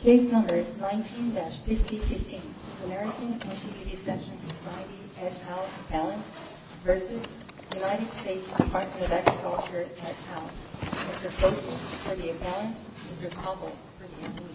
Case No. 19-5015, American Anti-Vivisection Society, Ed Powell Appellants v. United States Department of Agriculture, Ed Powell Mr. Poston for the Appellants, Mr. Cobble for the Ambulance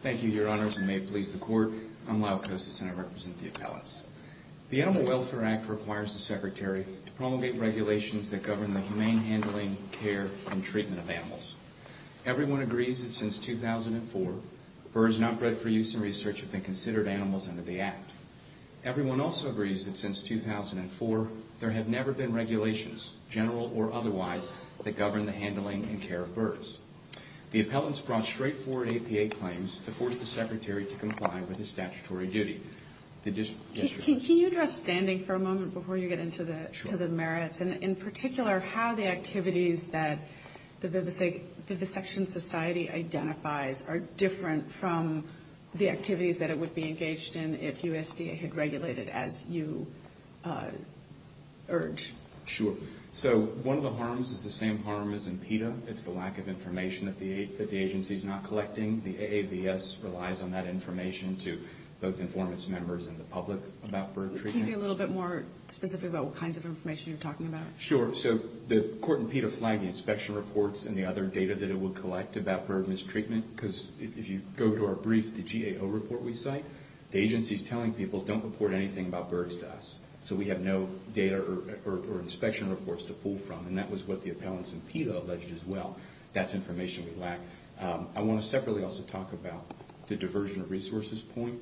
Thank you, Your Honors, and may it please the Court, I'm Lau Kosis and I represent the Appellants. The Animal Welfare Act requires the Secretary to promulgate regulations that govern the humane handling, care, and treatment of animals. Everyone agrees that since 2004, birds not bred for use in research have been considered animals under the Act. Everyone also agrees that since 2004, there have never been regulations, general or otherwise, that govern the handling and care of birds. The Appellants brought straightforward APA claims to force the Secretary to comply with his statutory duty. Can you address standing for a moment before you get into the merits, and in particular, how the activities that the Vivisection Society identifies are different from the activities that it would be engaged in if USDA had regulated as you urge? Sure. So one of the harms is the same harm as in PETA. It's the lack of information that the agency is not collecting. The AAVS relies on that information to both inform its members and the public about bird treatment. Can you be a little bit more specific about what kinds of information you're talking about? Sure. So the court in PETA flagged the inspection reports and the other data that it would collect about bird mistreatment, because if you go to our brief, the GAO report we cite, the agency is telling people, don't report anything about birds to us. So we have no data or inspection reports to pull from, and that was what the Appellants in PETA alleged as well. That's information we lack. I want to separately also talk about the diversion of resources point.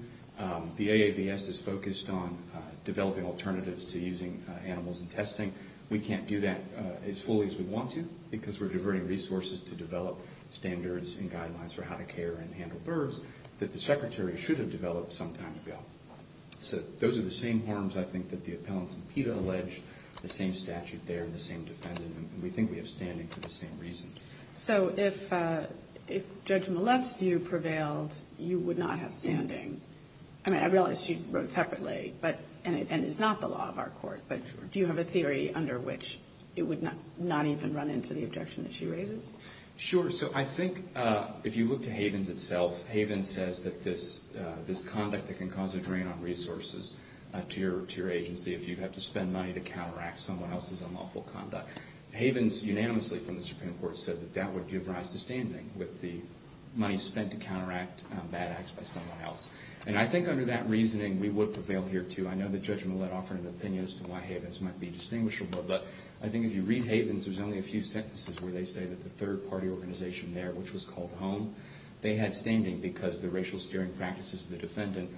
The AAVS is focused on developing alternatives to using animals in testing. We can't do that as fully as we want to, because we're diverting resources to develop standards and guidelines for how to care and handle birds that the Secretary should have developed some time ago. So those are the same harms, I think, that the Appellants in PETA allege. The same statute there and the same defendant, and we think we have standing for the same reason. So if Judge Millett's view prevailed, you would not have standing. I mean, I realize she wrote separately, and it's not the law of our court, but do you have a theory under which it would not even run into the objection that she raises? Sure. So I think if you look to Havens itself, Havens says that this conduct that can cause a drain on resources to your agency, if you have to spend money to counteract someone else's unlawful conduct, Havens unanimously from the Supreme Court said that that would give rise to standing with the money spent to counteract bad acts by someone else. And I think under that reasoning, we would prevail here, too. I know that Judge Millett offered an opinion as to why Havens might be distinguishable, but I think if you read Havens, there's only a few sentences where they say that the third-party organization there, which was called HOME, they had standing because the racial-steering practices of the defendant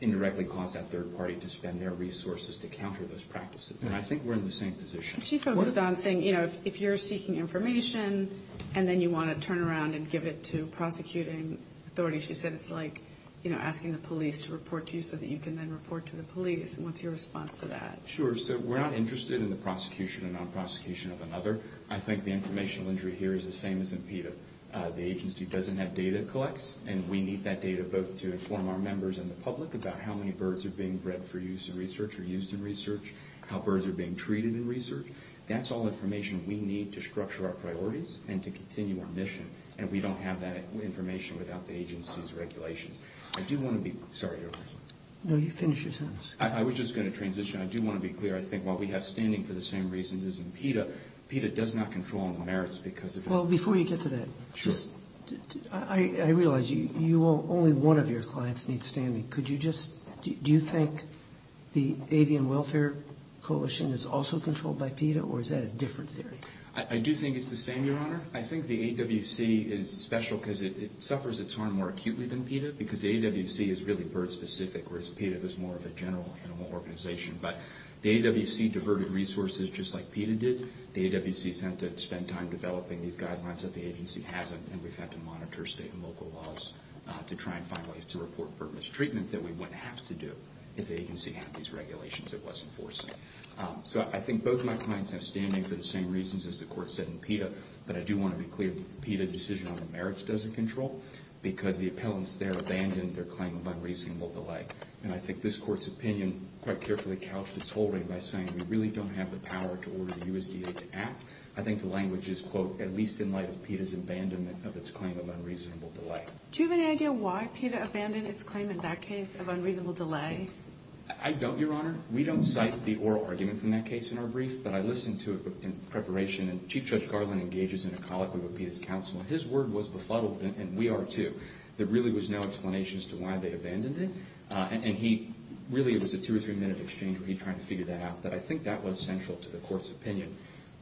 indirectly caused that third-party to spend their resources to counter those practices. And I think we're in the same position. And she focused on saying, you know, if you're seeking information and then you want to turn around and give it to prosecuting authorities, she said it's like, you know, asking the police to report to you so that you can then report to the police. And what's your response to that? Sure. So we're not interested in the prosecution or non-prosecution of another. I think the informational injury here is the same as in PETA. The agency doesn't have data collects, and we need that data both to inform our members and the public about how many birds are being bred for use in research or used in research, how birds are being treated in research. That's all information we need to structure our priorities and to continue our mission. And we don't have that information without the agency's regulations. I do want to be—sorry, Your Honor. No, you finish your sentence. I was just going to transition. I do want to be clear. I think what we have standing for the same reasons as in PETA, PETA does not control on the merits because of— Well, before you get to that, I realize only one of your clients needs standing. Could you just—do you think the Avian Welfare Coalition is also controlled by PETA, or is that a different theory? I do think it's the same, Your Honor. I think the AWC is special because it suffers its harm more acutely than PETA because the AWC is really bird-specific, whereas PETA is more of a general animal organization. But the AWC diverted resources just like PETA did. The AWC has had to spend time developing these guidelines that the agency hasn't, and we've had to monitor state and local laws to try and find ways to report bird mistreatment that we wouldn't have to do if the agency had these regulations it wasn't forcing. So I think both my clients have standing for the same reasons as the Court said in PETA, but I do want to be clear that the PETA decision on the merits doesn't control because the appellants there abandoned their claim of unreasonable delay. And I think this Court's opinion quite carefully couched its holding by saying we really don't have the power to order the USDA to act. I think the language is, quote, at least in light of PETA's abandonment of its claim of unreasonable delay. Do you have any idea why PETA abandoned its claim in that case of unreasonable delay? I don't, Your Honor. We don't cite the oral argument from that case in our brief, but I listened to it in preparation, and Chief Judge Garland engages in a colloquy with PETA's counsel. His word was befuddled, and we are too. There really was no explanation as to why they abandoned it, and really it was a two- or three-minute exchange where he tried to figure that out. But I think that was central to the Court's opinion.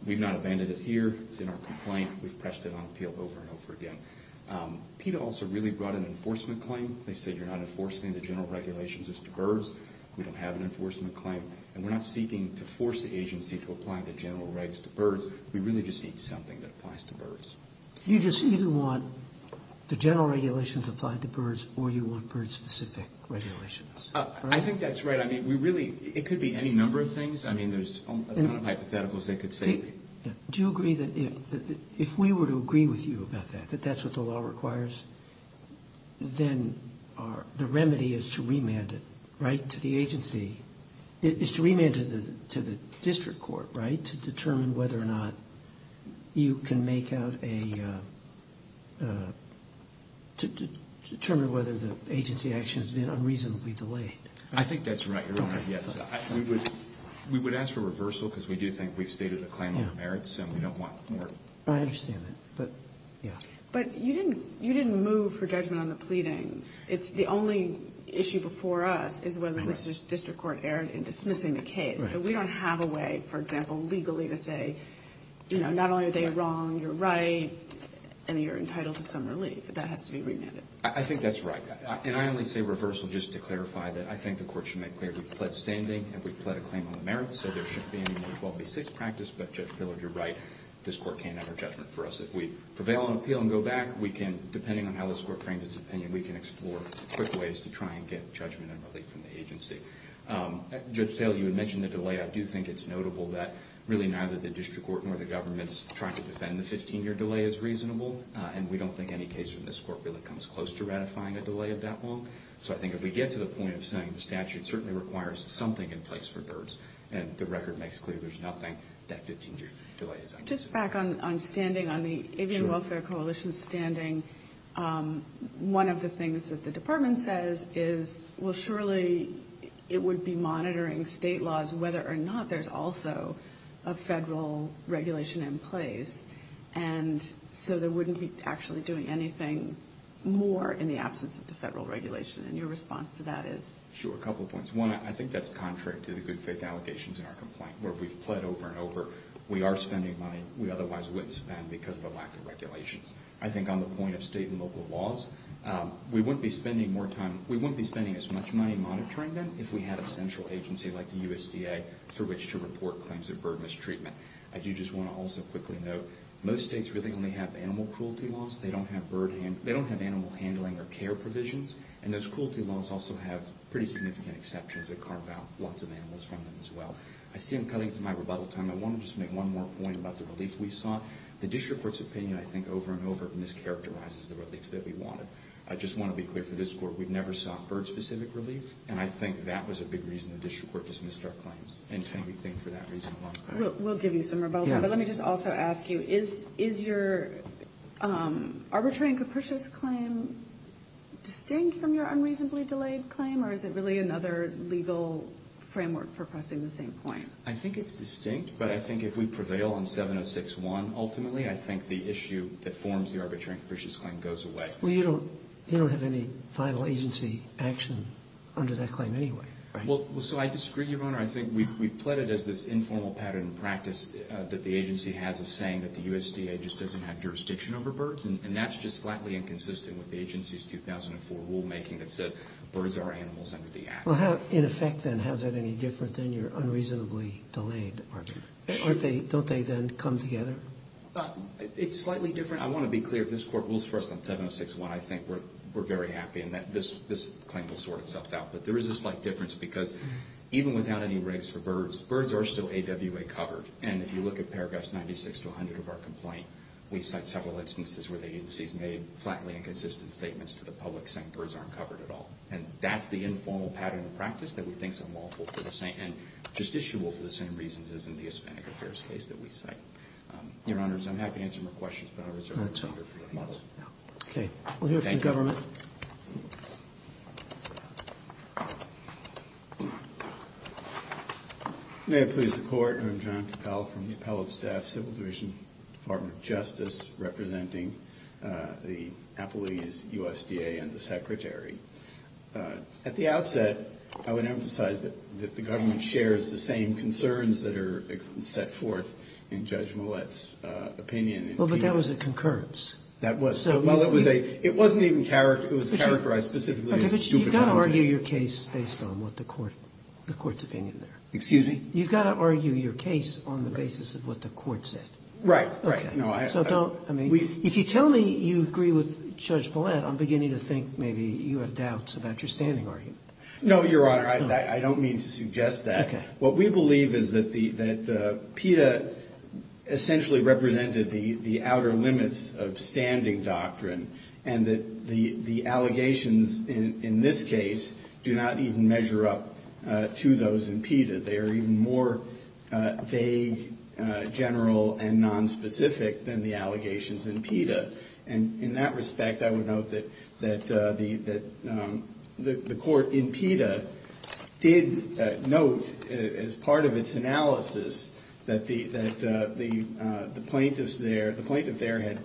We've not abandoned it here. It's in our complaint. We've pressed it on appeal over and over again. PETA also really brought an enforcement claim. They said you're not enforcing the general regulations as to birds. We don't have an enforcement claim, and we're not seeking to force the agency to apply the general rights to birds. We really just need something that applies to birds. You just either want the general regulations applied to birds, or you want bird-specific regulations. I think that's right. I mean, we really – it could be any number of things. I mean, there's a ton of hypotheticals they could say. Do you agree that if we were to agree with you about that, that that's what the law requires, then the remedy is to remand it, right, to the agency – is to remand it to the district court, right, to determine whether or not you can make out a – to determine whether the agency action has been unreasonably delayed? I think that's right, Your Honor, yes. We would ask for reversal because we do think we've stated a claim of merits, and we don't want more. I understand that, but, yeah. But you didn't move for judgment on the pleadings. The only issue before us is whether the district court erred in dismissing the case. So we don't have a way, for example, legally to say, you know, not only are they wrong, you're right, and you're entitled to some relief. That has to be remanded. I think that's right. And I only say reversal just to clarify that I think the court should make clear we've pled standing and we've pled a claim on the merits, so there shouldn't be any more 12B6 practice. But, Judge Pillard, you're right. This court can't have our judgment for us. If we prevail on appeal and go back, we can, depending on how this court frames its opinion, we can explore quick ways to try and get judgment and relief from the agency. Judge Taylor, you had mentioned the delay. I do think it's notable that really neither the district court nor the government is trying to defend the 15-year delay as reasonable, and we don't think any case from this court really comes close to ratifying a delay of that long. So I think if we get to the point of saying the statute certainly requires something in place for DIRTS and the record makes clear there's nothing, that 15-year delay is unacceptable. Just back on standing, on the Avian Welfare Coalition standing, one of the things that the department says is, well, surely it would be monitoring state laws whether or not there's also a federal regulation in place, and so they wouldn't be actually doing anything more in the absence of the federal regulation. And your response to that is? Sure, a couple of points. One, I think that's contrary to the good faith allegations in our complaint where we've pled over and over, we are spending money we otherwise wouldn't spend because of the lack of regulations. I think on the point of state and local laws, we wouldn't be spending as much money monitoring them if we had a central agency like the USDA through which to report claims of bird mistreatment. I do just want to also quickly note, most states really only have animal cruelty laws. They don't have animal handling or care provisions, and those cruelty laws also have pretty significant exceptions that carve out lots of animals from them as well. I see I'm cutting to my rebuttal time. I want to just make one more point about the relief we sought. The district court's opinion, I think, over and over, mischaracterizes the relief that we wanted. I just want to be clear for this Court, we've never sought bird-specific relief, and I think that was a big reason the district court dismissed our claims, and can we thank for that reason a lot. We'll give you some rebuttal time, but let me just also ask you, is your arbitrary and capricious claim distinct from your unreasonably delayed claim, or is it really another legal framework for pressing the same point? I think it's distinct, but I think if we prevail on 706.1, ultimately I think the issue that forms the arbitrary and capricious claim goes away. Well, you don't have any final agency action under that claim anyway, right? Well, so I disagree, Your Honor. I think we've pled it as this informal pattern of practice that the agency has of saying that the USDA just doesn't have jurisdiction over birds, and that's just flatly inconsistent with the agency's 2004 rulemaking that said birds are animals under the Act. Well, in effect, then, how is that any different than your unreasonably delayed argument? Don't they then come together? It's slightly different. I want to be clear. If this Court rules for us on 706.1, I think we're very happy, and this claim will sort itself out. But there is a slight difference because even without any rigs for birds, birds are still AWA covered. And if you look at paragraphs 96 to 100 of our complaint, we cite several instances where the agency has made flatly inconsistent statements to the public saying birds aren't covered at all. And that's the informal pattern of practice that we think is unlawful, and justiciable for the same reasons as in the Hispanic Affairs case that we cite. Your Honors, I'm happy to answer more questions, but I reserve the floor to you. Okay. We'll hear from the government. Thank you. May it please the Court. I'm John Cappell from the Appellate Staff Civil Division, Department of Justice, representing the Applebee's, USDA, and the Secretary. At the outset, I would emphasize that the government shares the same concerns that are set forth in Judge Millett's opinion. Well, but that was a concurrence. That was. Well, it was a – it wasn't even characterized – it was characterized specifically as stupidity. You've got to argue your case based on what the Court – the Court's opinion there. Excuse me? You've got to argue your case on the basis of what the Court said. Right, right. Okay. So don't – I mean, if you tell me you agree with Judge Millett, I'm beginning to think maybe you have doubts about your standing argument. No, Your Honor, I don't mean to suggest that. Okay. What we believe is that the – that PETA essentially represented the outer limits of standing doctrine and that the allegations in this case do not even measure up to those in PETA. They are even more vague, general, and nonspecific than the allegations in PETA. And in that respect, I would note that – that the – that the Court in PETA did note as part of its analysis that the – that the plaintiffs there – the plaintiff there had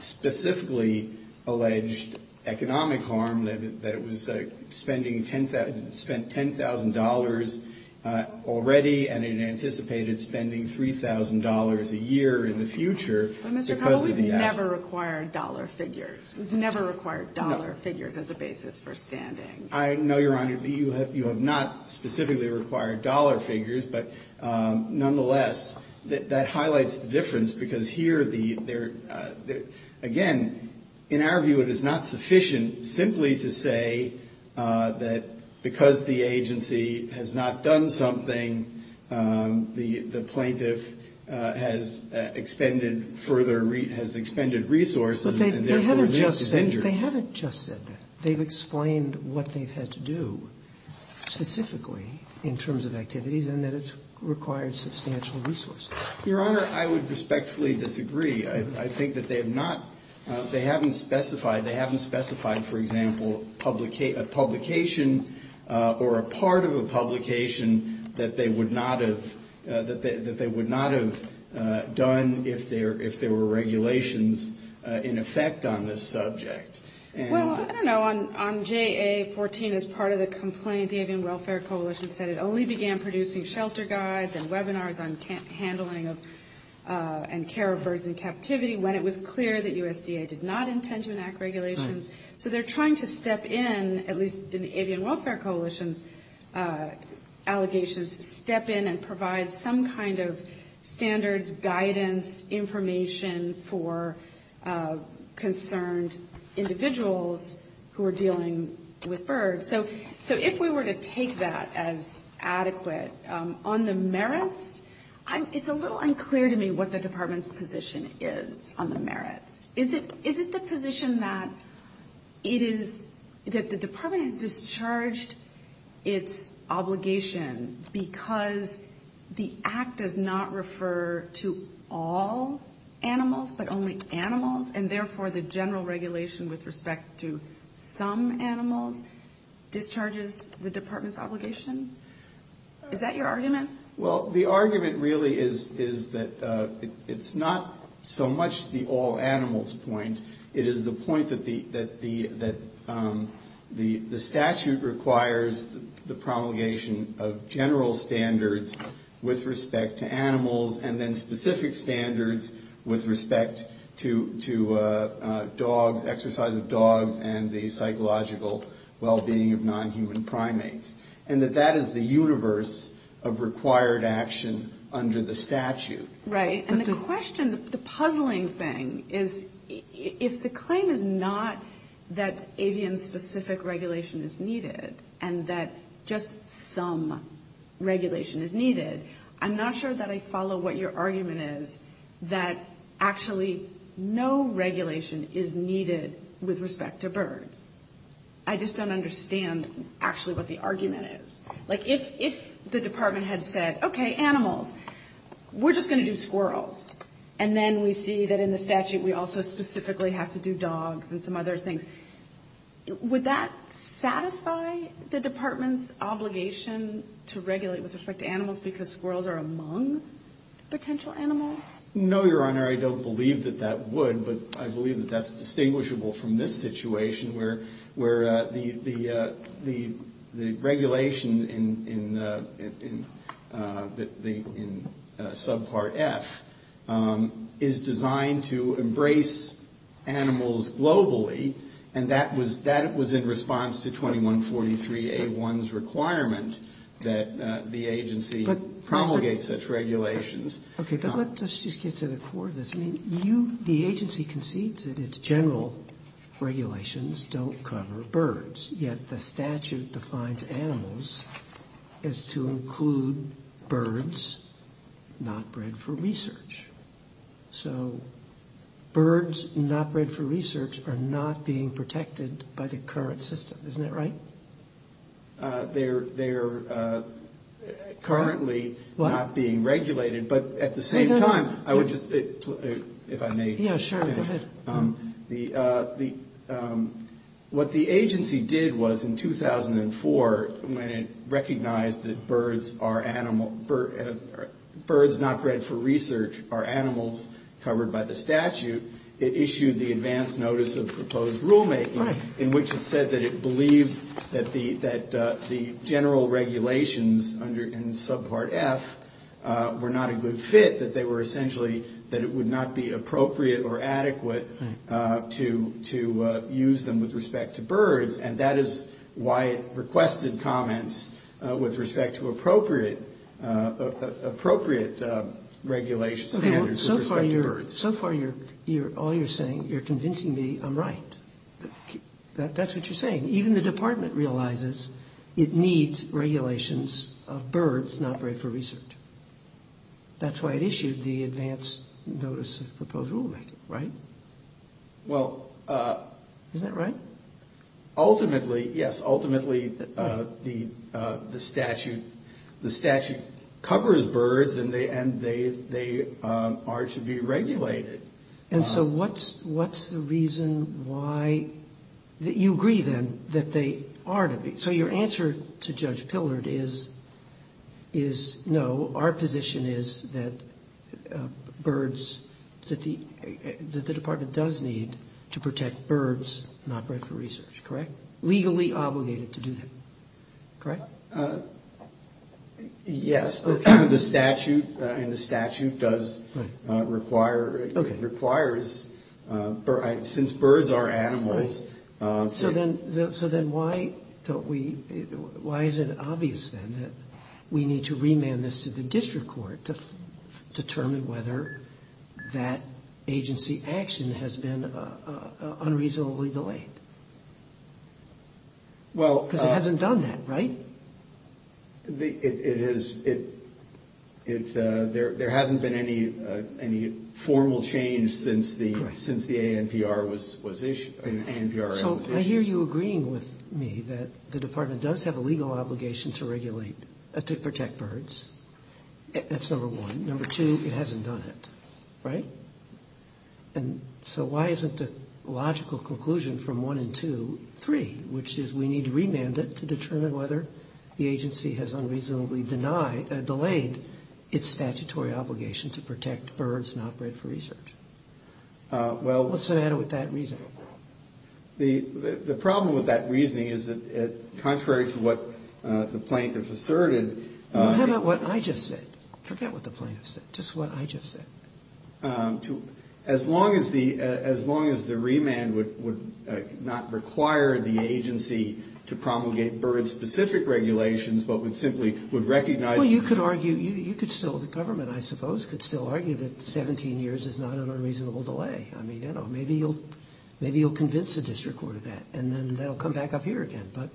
specifically alleged economic harm, that it was spending – spent $10,000 already, and it anticipated spending $3,000 a year in the future because of the So we've never required dollar figures. No. We've never required dollar figures as a basis for standing. I know, Your Honor, you have – you have not specifically required dollar figures, but nonetheless, that highlights the difference because here the – there – again, in our view, it is not sufficient simply to say that because the agency has not done something, the – the plaintiff has expended further – has expended resources and therefore is injured. But they haven't just said – they haven't just said that. They've explained what they've had to do specifically in terms of activities and that it's required substantial resources. Your Honor, I would respectfully disagree. I think that they have not – they haven't specified – they haven't specified, for example, a publication or a part of a publication that they would not have – that they would not have done if there were regulations in effect on this subject. Well, I don't know. On JA-14, as part of the complaint, the Avian Welfare Coalition said it only began producing shelter guides and webinars on handling of and care of birds in captivity when it was clear that USDA did not intend to enact regulations. So they're trying to step in, at least in the Avian Welfare Coalition's allegations, step in and provide some kind of standards, guidance, information for concerned individuals who are dealing with birds. So if we were to take that as adequate, on the merits, it's a little unclear to me what the Department's position is on the merits. Is it the position that it is – that the Department has discharged its obligation because the Act does not refer to all animals but only animals, and therefore the general regulation with respect to some animals discharges the Department's obligation? Is that your argument? Well, the argument really is that it's not so much the all animals point. It is the point that the statute requires the promulgation of general standards with respect to animals and then specific standards with respect to dogs, exercise of dogs, and the psychological well-being of non-human primates, and that that is the universe of required action under the statute. Right. And the question, the puzzling thing is if the claim is not that avian-specific regulation is needed and that just some regulation is needed, I'm not sure that I follow what your argument is, that actually no regulation is needed with respect to birds. I just don't understand actually what the argument is. Like if the Department had said, okay, animals, we're just going to do squirrels, and then we see that in the statute we also specifically have to do dogs and some other things, would that satisfy the Department's obligation to regulate with respect to animals because squirrels are among potential animals? No, Your Honor. I don't believe that that would, but I believe that that's distinguishable from this situation where the regulation in subpart F is designed to embrace animals globally, and that was in response to 2143A1's requirement that the agency promulgate such regulations. Okay, but let's just get to the core of this. The agency concedes that its general regulations don't cover birds, yet the statute defines animals as to include birds not bred for research. So birds not bred for research are not being protected by the current system, isn't that right? They are currently not being regulated, but at the same time, I would just, if I may. Yeah, sure, go ahead. What the agency did was in 2004, when it recognized that birds not bred for research are animals covered by the statute, it issued the advance notice of proposed rulemaking in which it said that it believed that the general regulations in subpart F were not a good fit, that they were essentially, that it would not be appropriate or adequate to use them with respect to birds, and that is why it requested comments with respect to appropriate regulation standards with respect to birds. So far, all you're saying, you're convincing me I'm right. That's what you're saying. Even the department realizes it needs regulations of birds not bred for research. That's why it issued the advance notice of proposed rulemaking, right? Well. Is that right? Ultimately, yes. Ultimately, the statute covers birds and they are to be regulated. And so what's the reason why you agree then that they are to be? So your answer to Judge Pilderd is no, our position is that birds, that the department does need to protect birds not bred for research, correct? Legally obligated to do that, correct? Yes, the statute does require, it requires, since birds are animals. So then why is it obvious then that we need to remand this to the district court to determine whether that agency action has been unreasonably delayed? Because it hasn't done that, right? It is, there hasn't been any formal change since the ANPR was issued. So I hear you agreeing with me that the department does have a legal obligation to regulate, to protect birds, that's number one. Number two, it hasn't done it, right? And so why isn't the logical conclusion from one and two, three, which is we need to remand it to determine whether the agency has unreasonably delayed its statutory obligation to protect birds not bred for research? What's the matter with that reasoning? The problem with that reasoning is that contrary to what the plaintiff asserted. How about what I just said? Forget what the plaintiff said, just what I just said. As long as the remand would not require the agency to promulgate bird-specific regulations, but would simply recognize... Well, you could argue, you could still, the government, I suppose, could still argue that 17 years is not an unreasonable delay. I mean, I don't know, maybe you'll convince the district court of that, and then that'll come back up here again. But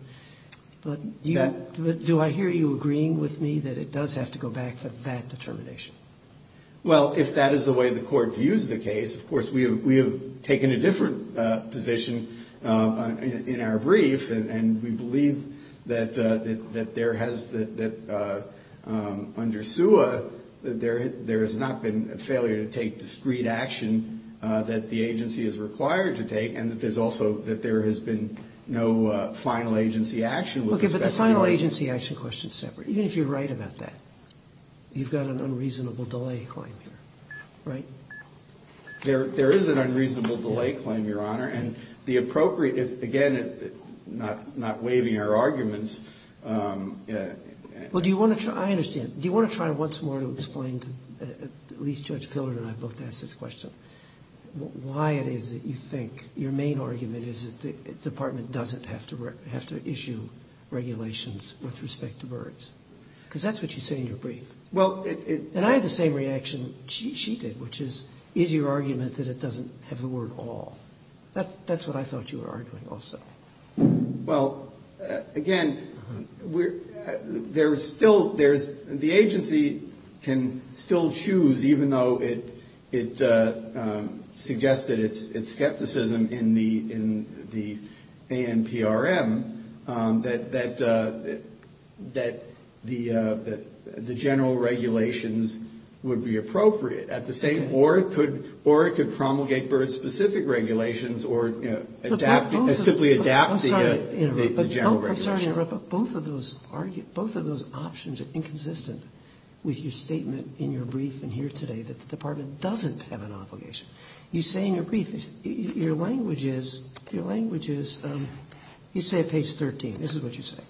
do I hear you agreeing with me that it does have to go back to that determination? Well, if that is the way the court views the case, of course, we have taken a different position in our brief, and we believe that there has, that under SUA, there has not been a failure to take discrete action that the agency is required to take, and that there's also, that there has been no final agency action... Okay, but the final agency action question is separate, even if you're right about that. You've got an unreasonable delay claim here, right? There is an unreasonable delay claim, Your Honor, and the appropriate, again, not waiving our arguments... Well, do you want to try, I understand, do you want to try once more to explain, at least Judge Pillard and I both asked this question, why it is that you think your main argument is that the department doesn't have to issue regulations with respect to birds? Because that's what you say in your brief. Well, it... And I had the same reaction she did, which is, is your argument that it doesn't have the word all? That's what I thought you were arguing also. Well, again, there's still, there's, the agency can still choose, even though it suggested its skepticism in the ANPRM, that the general regulations would be appropriate. At the same, or it could promulgate bird-specific regulations, or simply adapt the general regulations. I'm sorry to interrupt, but both of those options are inconsistent with your statement in your brief and here today that the department doesn't have an obligation. You say in your brief, your language is, you say at page 13, this is what you say,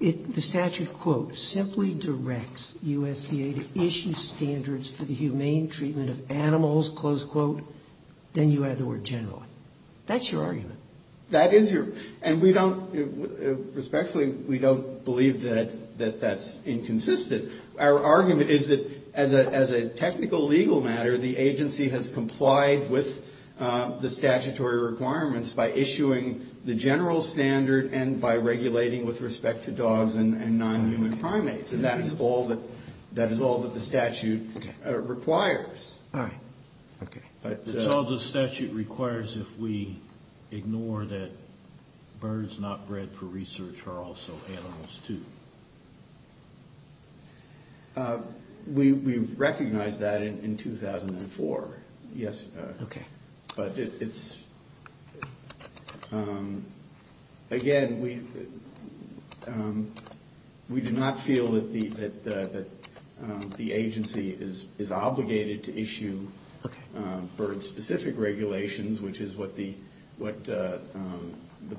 the statute, quote, simply directs USDA to issue standards for the humane treatment of animals, close quote, then you add the word general. That's your argument. That is your, and we don't, respectfully, we don't believe that that's inconsistent. Our argument is that as a technical legal matter, the agency has complied with the statutory requirements by issuing the general standard and by regulating with respect to dogs and non-human primates. And that is all that, that is all that the statute requires. All right. Okay. That's all the statute requires if we ignore that birds not bred for research are also animals too. We recognize that in 2004. Yes. Okay. But it's, again, we do not feel that the agency is obligated to issue bird specific regulations, which is what the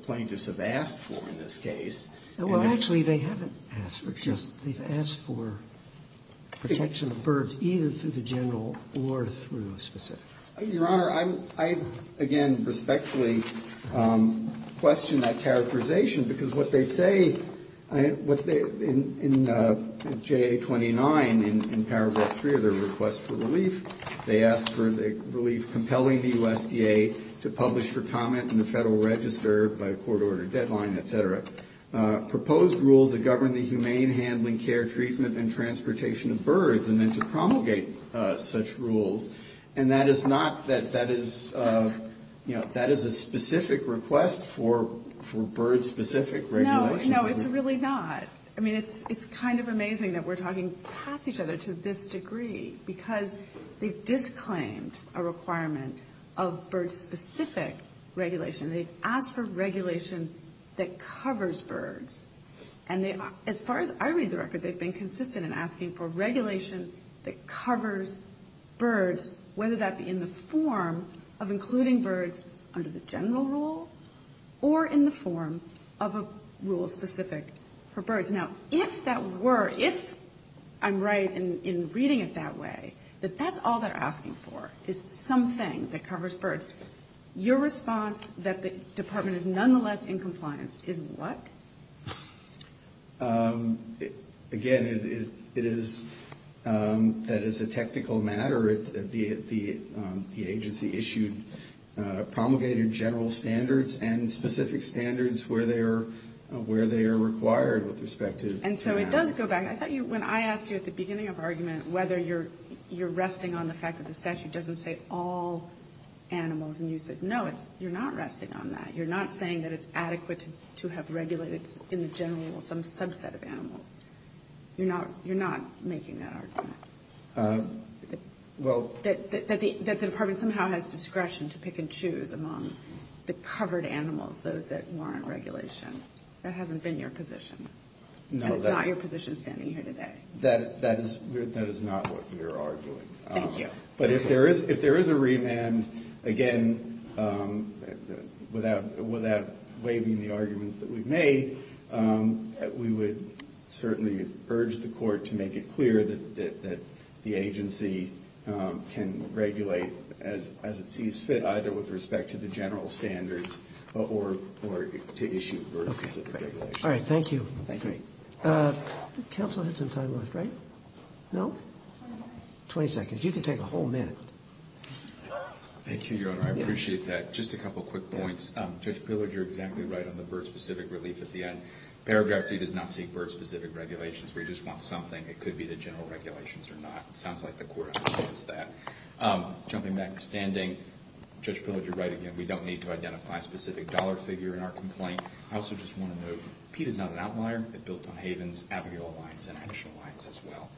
plaintiffs have asked for in this case. Well, actually, they haven't asked for it. They've asked for protection of birds either through the general or through a specific. Your Honor, I, again, respectfully question that characterization, because what they say, what they, in JA 29, in paragraph 3 of their request for relief, they ask for the relief compelling the USDA to publish their comment in the Federal Register by a court-ordered deadline, et cetera, proposed rules that govern the humane handling, care, treatment, and transportation of birds, and then to promulgate such rules. And that is not, that is, you know, that is a specific request for bird specific regulations. No, no, it's really not. I mean, it's kind of amazing that we're talking past each other to this degree, because they've disclaimed a requirement of bird specific regulation. They've asked for regulation that covers birds. And as far as I read the record, they've been consistent in asking for regulation that covers birds, whether that be in the form of including birds under the general rule or in the form of a rule specific for birds. Now, if that were, if I'm right in reading it that way, that that's all they're asking for is something that covers birds, your response that the Department is nonetheless in compliance is what? Again, it is, that is a technical matter. The agency issued promulgated general standards and specific standards where they are required with respect to that. And so it does go back. I thought you, when I asked you at the beginning of our argument whether you're resting on the fact that the statute doesn't say all animals, and you said no, you're not resting on that. You're not saying that it's adequate to have regulated in the general rule some subset of animals. You're not making that argument. Well. That the Department somehow has discretion to pick and choose among the covered animals, those that warrant regulation. That hasn't been your position. No. And it's not your position standing here today. That is not what we are arguing. Thank you. But if there is a remand, again, without waiving the argument that we've made, we would certainly urge the court to make it clear that the agency can regulate as it sees fit, either with respect to the general standards or to issue birds. All right. Thank you. Counsel has some time left, right? No? 20 seconds. You can take a whole minute. Thank you, Your Honor. I appreciate that. Just a couple quick points. Judge Pillard, you're exactly right on the bird-specific relief at the end. Paragraph 3 does not seek bird-specific regulations. We just want something. It could be the general regulations or not. It sounds like the court understands that. Jumping back to standing, Judge Pillard, you're right again. We don't need to identify a specific dollar figure in our complaint. I also just want to note, Pete is not an outlier. It built on Havens, Abigail Alliance, and Henshaw Alliance as well.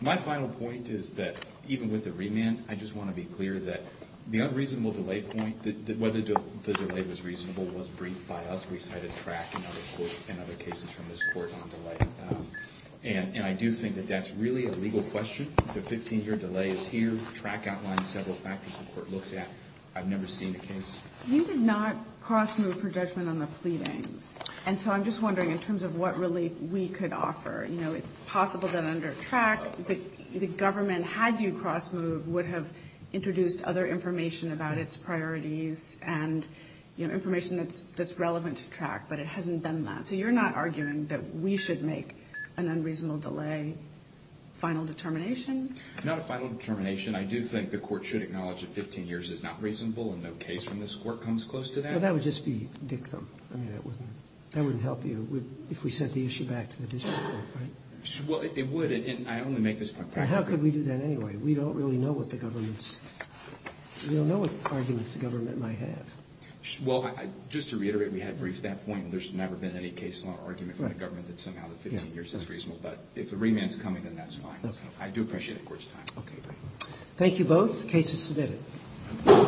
My final point is that even with the remand, I just want to be clear that the unreasonable delay point, whether the delay was reasonable, was briefed by us. We cited track and other cases from this court on delay. And I do think that that's really a legal question. The 15-year delay is here. Track outlines several factors the court looks at. I've never seen a case. You did not cross-move for judgment on the pleadings. And so I'm just wondering, in terms of what relief we could offer, you know, it's possible that under track the government, had you cross-moved, would have introduced other information about its priorities and, you know, information that's relevant to track, but it hasn't done that. So you're not arguing that we should make an unreasonable delay final determination? Not a final determination. I do think the court should acknowledge that 15 years is not reasonable and no case from this court comes close to that. Well, that would just be dick them. I mean, that wouldn't help you if we sent the issue back to the district court, right? Well, it would. And I only make this point practically. How could we do that anyway? We don't really know what the government's – we don't know what arguments the government might have. Well, just to reiterate, we had briefed that point. There's never been any case law argument from the government that somehow the 15 years is reasonable. But if the remand is coming, then that's fine. I do appreciate the Court's time. Okay. Thank you both. The case is submitted.